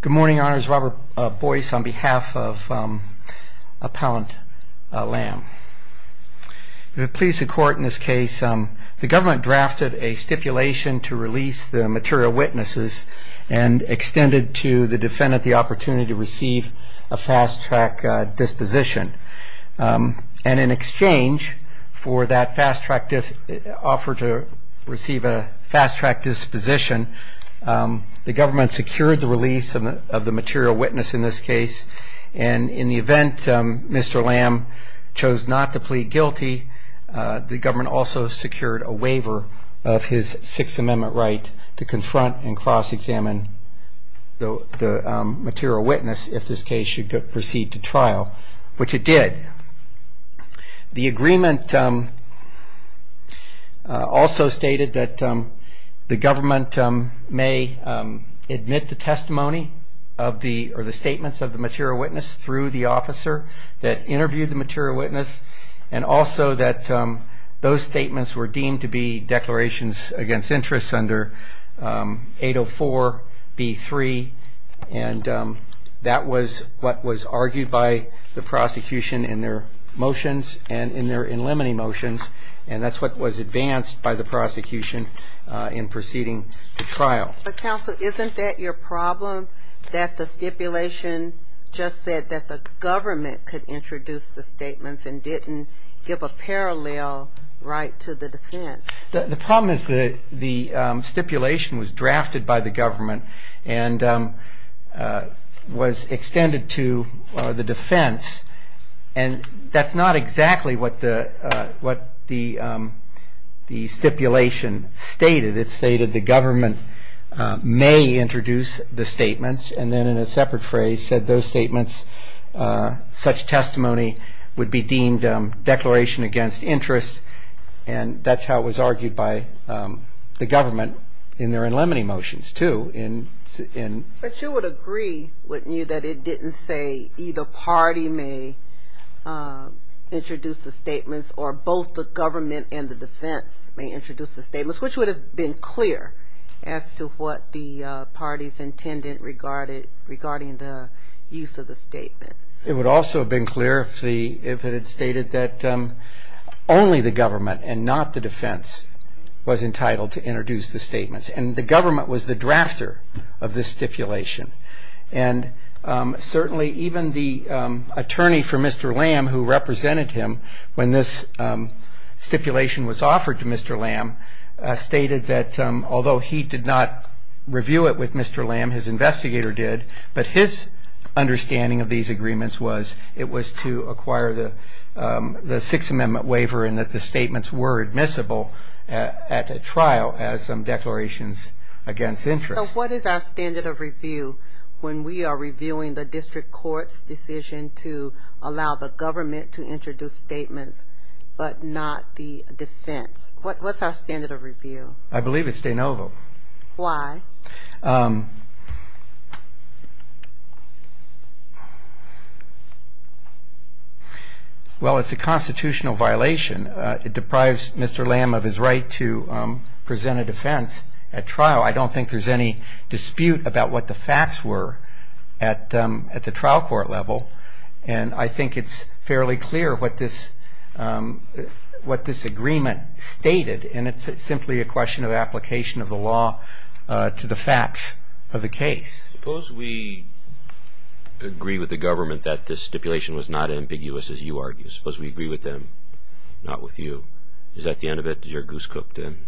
Good morning, Your Honors. Robert Boyce on behalf of Appellant Lamb. We have pleased the court in this case. The government drafted a stipulation to release the material witnesses and extended to the defendant the opportunity to receive a fast-track disposition. And in exchange for that fast-track offer to receive a fast-track disposition, the government secured the release of the material witness in this case. And in the event Mr. Lamb chose not to plead guilty, the government also secured a waiver of his Sixth Amendment right to confront and cross-examine the material witness if this case should proceed to trial, which it did. The agreement also stated that the government may admit the testimony or the statements of the material witness through the officer that interviewed the material witness and also that those statements were deemed to be declarations against interest under 804 B.3 and that was what was argued by the prosecution in their motions and in their in limine motions and that's what was advanced by the prosecution in proceeding to trial. Counsel, isn't that your problem that the stipulation just said that the government could introduce the statements and didn't give a parallel right to the defense? The problem is that the stipulation was drafted by the government and was extended to the prosecution and that's not exactly what the stipulation stated. It stated the government may introduce the statements and then in a separate phrase said those statements, such testimony would be deemed declaration against interest and that's how it was argued by the government in their in limine motions too. But you would agree, wouldn't you, that it didn't say either party may introduce the statements or both the government and the defense may introduce the statements which would have been clear as to what the party's intended regarding the use of the statements. It would also have been clear if it had stated that only the government and not the defense was entitled to introduce the statements and the government was the drafter of the stipulation and certainly even the attorney for Mr. Lamb who represented him when this stipulation was offered to Mr. Lamb stated that although he did not review it with Mr. Lamb, his investigator did, but his understanding of these agreements was it was to acquire the Sixth Amendment waiver and that the statements were admissible at a trial as some declarations against interest. So what is our standard of review when we are reviewing the district court's decision to allow the government to introduce statements but not the defense? What's our standard of review? I believe it's de novo. Why? Well it's a constitutional violation. It deprives Mr. Lamb of his right to present a defense at trial. I don't think there's any dispute about what the facts were at the trial court level and I think it's fairly clear what this agreement stated and it's simply a question of application of the law to the facts of the case. Suppose we agree with the government that this stipulation was not ambiguous as you argue. Suppose we agree with them, not with you. Is that the scope then?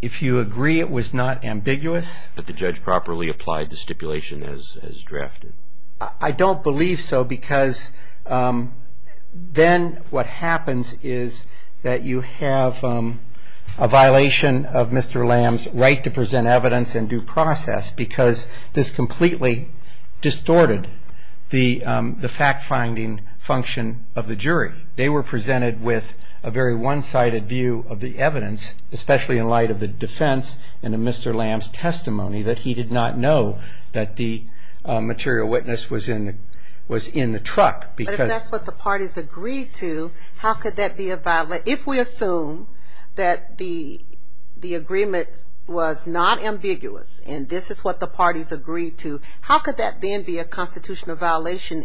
If you agree it was not ambiguous. That the judge properly applied the stipulation as drafted. I don't believe so because then what happens is that you have a violation of Mr. Lamb's right to present evidence in due process because this completely distorted the fact-finding function of the jury. They were presented with a very one-sided view of the evidence especially in light of the defense and Mr. Lamb's testimony that he did not know that the material witness was in the truck. But if that's what the parties agreed to, how could that be a violation? If we assume that the agreement was not ambiguous and this is what the parties agreed to, how could that then be a violation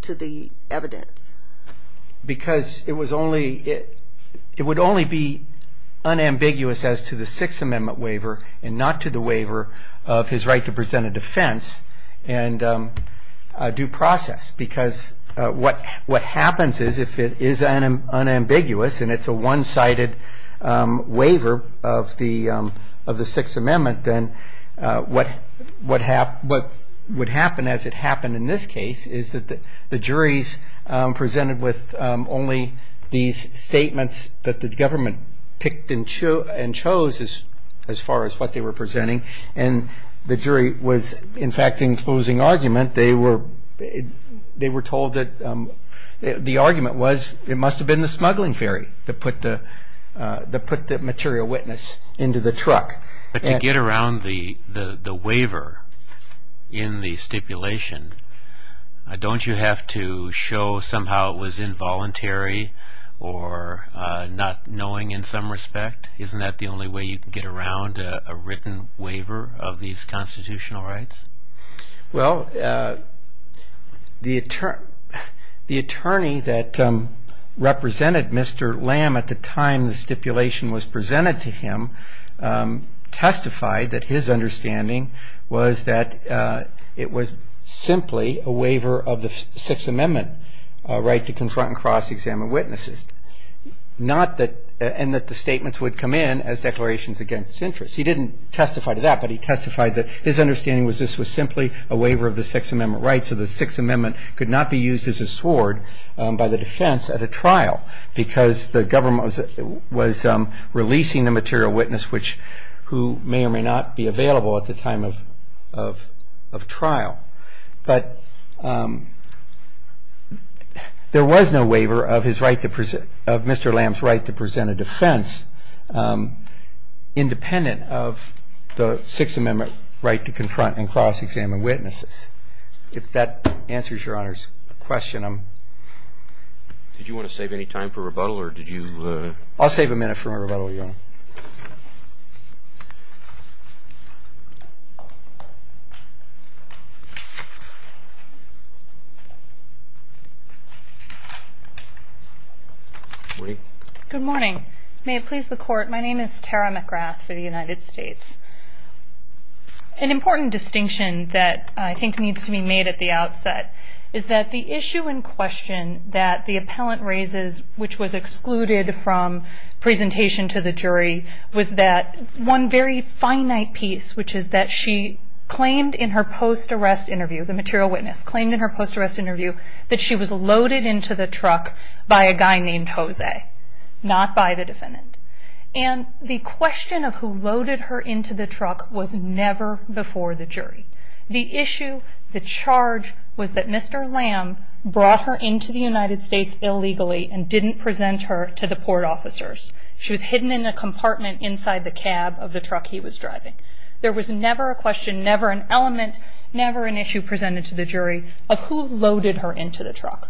to the evidence? Because it was only, it would only be unambiguous as to the Sixth Amendment waiver and not to the waiver of his right to present a defense in due process because what happens is if it is unambiguous and it's a one-sided waiver of the Sixth Amendment then what would happen as it the jury's presented with only these statements that the government picked and chose as far as what they were presenting and the jury was in fact in closing argument they were told that the argument was it must have been the smuggling ferry that put the material witness into the truck. But to get around the the waiver in the stipulation, don't you have to show somehow it was involuntary or not knowing in some respect? Isn't that the only way you can get around a written waiver of these constitutional rights? Well, the attorney that represented Mr. Lamb at the time the testified that his understanding was that it was simply a waiver of the Sixth Amendment right to confront and cross-examine witnesses and that the statements would come in as declarations against interest. He didn't testify to that but he testified that his understanding was this was simply a waiver of the Sixth Amendment right so the Sixth Amendment could not be used as a sword by the defense at a trial because the government was releasing the material witness which who may or may not be available at the time of trial. But there was no waiver of his right to present, of Mr. Lamb's right to present a defense independent of the Sixth Amendment right to confront and cross-examine witnesses. If that answers your Honor's question. Did you want to give any time for rebuttal or did you? I'll save a minute for my rebuttal, Your Honor. Good morning. May it please the court, my name is Tara McGrath for the United States. An important distinction that I think needs to be made at the outset is that the issue in question that the appellant raises which was excluded from presentation to the jury was that one very finite piece which is that she claimed in her post-arrest interview, the material witness, claimed in her post- arrest interview that she was loaded into the truck by a guy named Jose, not by the defendant. And the question of who loaded her into the truck was never before the jury. The issue, the charge was that Mr. Lamb brought her into the United States illegally and didn't present her to the port officers. She was hidden in a compartment inside the cab of the truck he was driving. There was never a question, never an element, never an issue presented to the jury of who loaded her into the truck.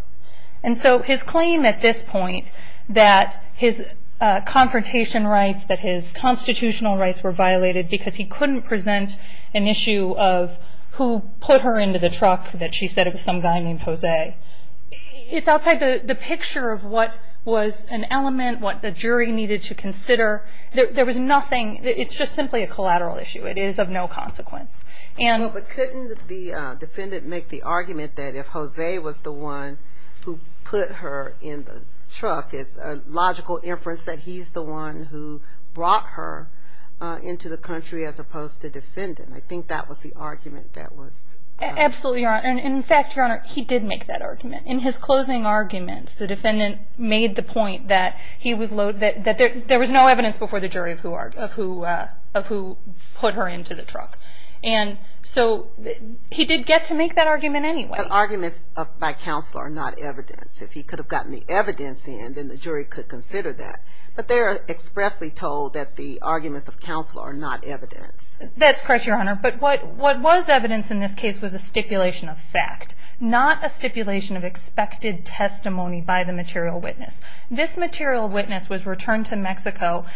And so his claim at this point that his confrontation rights, that his constitutional rights were violated because he couldn't present an issue of who put her into the truck that she said it was some guy named Jose. It's outside the picture of what was an element, what the jury needed to consider. There was nothing, it's just simply a collateral issue. It is of no consequence. But couldn't the defendant make the argument that if Jose was the one who put her in the truck, it's a logical inference that he's the one who brought her into the country as opposed to the defendant. I think that was the argument that was... Absolutely, Your Honor. And in fact, Your Honor, he did make that argument. In his closing arguments, the defendant made the point that there was no evidence before the jury of who put her into the truck. And so he did get to make that argument anyway. But arguments by counsel are not evidence. If he could have gotten the evidence in, then the jury could consider that. But they're expressly told that the arguments of counsel are not evidence. That's correct, Your Honor. But what was evidence in this case was a stipulation of fact, not a stipulation of expected testimony by the material witness. This material witness was returned to Mexico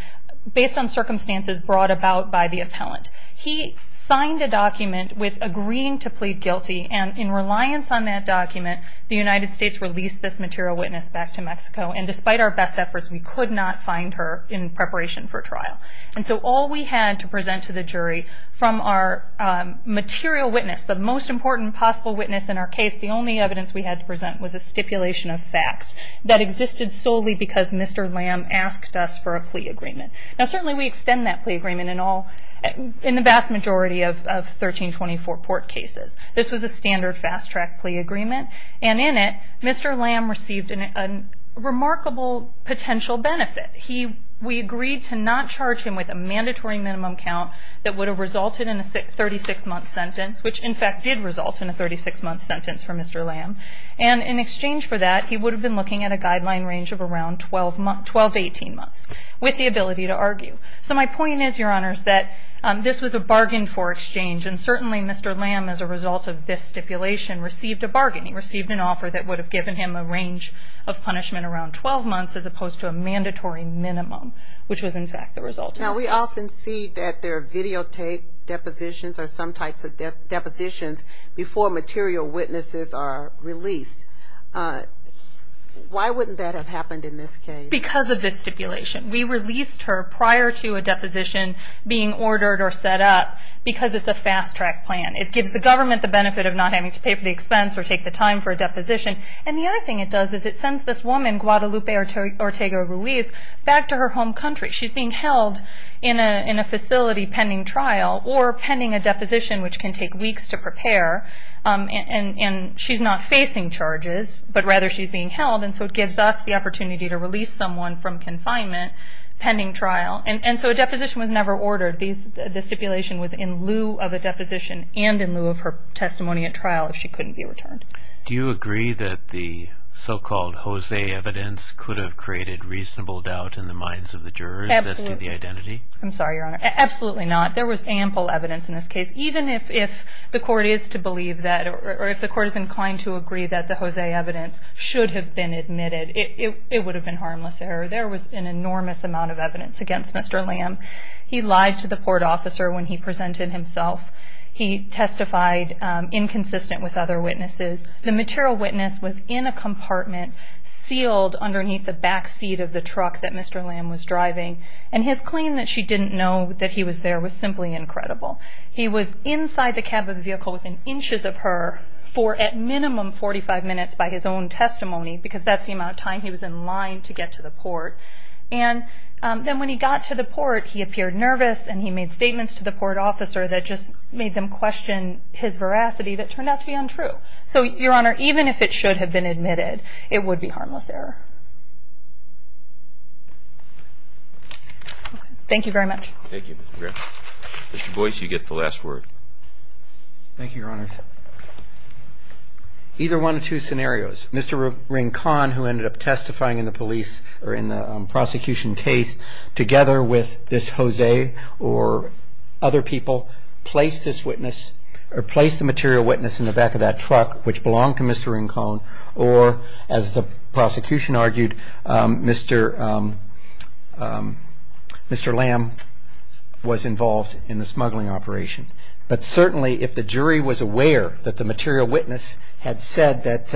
based on circumstances brought about by the appellant. He signed a document with agreeing to plead guilty. And in reliance on that document, the United States released this material witness back to Mexico. And despite our best efforts, we could not find her in And so all we had to present to the jury from our material witness, the most important possible witness in our case, the only evidence we had to present was a stipulation of facts that existed solely because Mr. Lamb asked us for a plea agreement. Now, certainly we extend that plea agreement in the vast majority of 1324 Port cases. This was a standard fast-track plea agreement. And in it, Mr. Lamb had a remarkable potential benefit. We agreed to not charge him with a mandatory minimum count that would have resulted in a 36-month sentence, which in fact did result in a 36-month sentence for Mr. Lamb. And in exchange for that, he would have been looking at a guideline range of around 12 to 18 months, with the ability to argue. So my point is, Your Honors, that this was a bargain for exchange. And certainly Mr. Lamb, as a result of this stipulation, received a bargain. He opposed to a mandatory minimum, which was, in fact, the result of this case. Now, we often see that there are videotaped depositions or some types of depositions before material witnesses are released. Why wouldn't that have happened in this case? Because of this stipulation. We released her prior to a deposition being ordered or set up because it's a fast-track plan. It gives the government the benefit of not having to pay for the expense or take the time for a deposition. And so we sent Ms. Ortega-Ruiz back to her home country. She's being held in a facility pending trial or pending a deposition, which can take weeks to prepare. And she's not facing charges, but rather she's being held. And so it gives us the opportunity to release someone from confinement pending trial. And so a deposition was never ordered. The stipulation was in lieu of a deposition and in lieu of her testimony at trial if she couldn't be returned. Do you agree that the so-called Jose evidence could have created reasonable doubt in the minds of the jurors as to the identity? I'm sorry, Your Honor. Absolutely not. There was ample evidence in this case. Even if the court is to believe that or if the court is inclined to agree that the Jose evidence should have been admitted, it would have been harmless error. There was an enormous amount of evidence against Mr. Lamb. He lied to the port officer when he presented himself. He testified inconsistent with other witnesses. The material witness was in a compartment sealed underneath the backseat of the truck that Mr. Lamb was driving. And his claim that she didn't know that he was there was simply incredible. He was inside the cab of the vehicle within inches of her for at minimum 45 minutes by his own testimony, because that's the amount of time he was in line to get to the port. And then when he got to the port, he appeared nervous and he made statements to the port officer that just made them question his veracity that turned out to be untrue. So, Your Honor, even if it should have been admitted, it would be harmless error. Thank you very much. Thank you, Ms. McGriff. Mr. Boyce, you get the last word. Thank you, Your Honors. Either one or two scenarios. Mr. Ring Kahn, who ended up testifying in the police or in the prosecution case together with this Jose or other people, placed this witness or placed the material witness in the back of that truck, which belonged to Mr. Ring Kahn, or as the prosecution argued, Mr. Lamb was involved in the smuggling operation. But certainly if the jury was aware that the material witness had said that,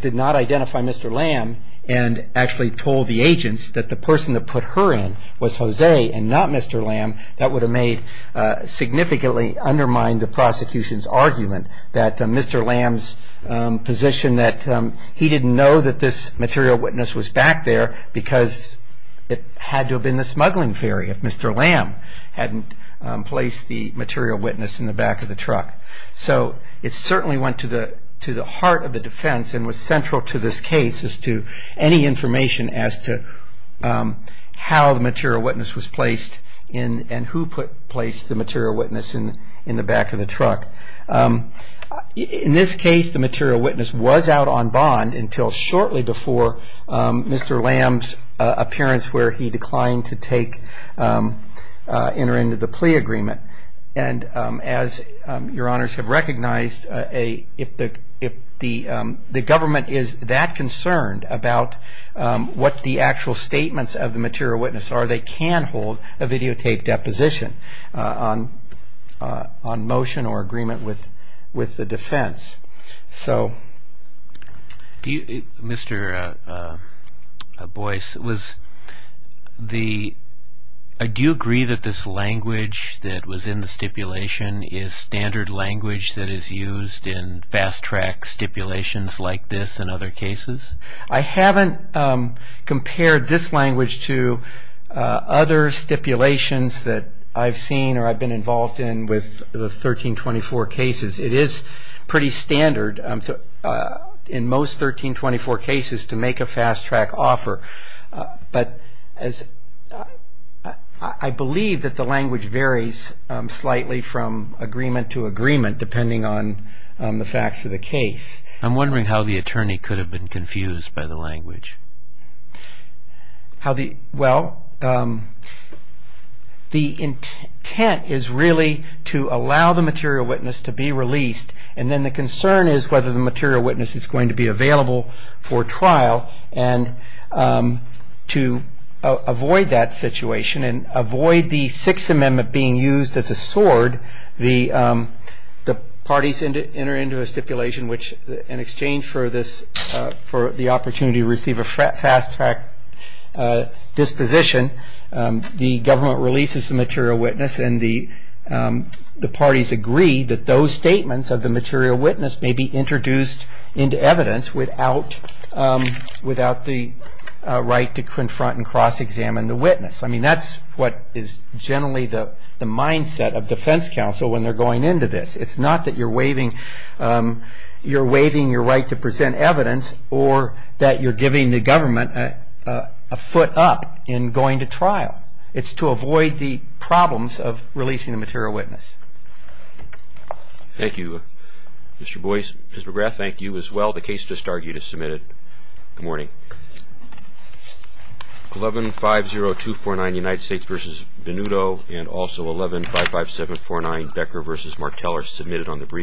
did not identify Mr. Lamb and actually told the person that put her in was Jose and not Mr. Lamb, that would have made, significantly undermined the prosecution's argument that Mr. Lamb's position that he didn't know that this material witness was back there because it had to have been the smuggling ferry if Mr. Lamb hadn't placed the material witness in the back of the truck. So, it certainly went to the heart of the defense and was central to this case as to any information as to how the material witness was placed and who placed the material witness in the back of the truck. In this case, the material witness was out on bond until shortly before Mr. Lamb's appearance where he declined to enter into the plea agreement. And as Your Honors have seen, what the actual statements of the material witness are, they can hold a videotape deposition on motion or agreement with the defense. So, Mr. Boyce, do you agree that this language that was in the stipulation is standard language that is used in fast track stipulations like this and other cases? I haven't compared this language to other stipulations that I've seen or I've been involved in with the 1324 cases. It is pretty standard in most 1324 cases to make a fast track offer. But I believe that the language varies slightly from agreement to agreement depending on the facts of the case. I'm wondering how the attorney could have been confused by the language. Well, the intent is really to allow the material witness to be released. And then the concern is whether the material witness is going to be available for trial. And to avoid that situation and avoid the Sixth Amendment being used as a sword, the parties enter into a stipulation which in exchange for this, for the opportunity to receive a fast track disposition, the government releases the material witness and the parties agree that those statements of the material witness may be introduced into evidence without the right to confront and cross-examine the witness. I mean, that's what is generally the mindset of defense counsel when they're going into this. It's not that you're waiving your right to present evidence or that you're giving the government a foot up in going to trial. It's to avoid the problems of releasing the material witness. Thank you, Mr. Boyce. Mr. McGrath, thank you as well. The case just argued is submitted. Good morning. 1150249 United States v. Benuto and also 1155749 Becker v. Martell are submitted on the brief.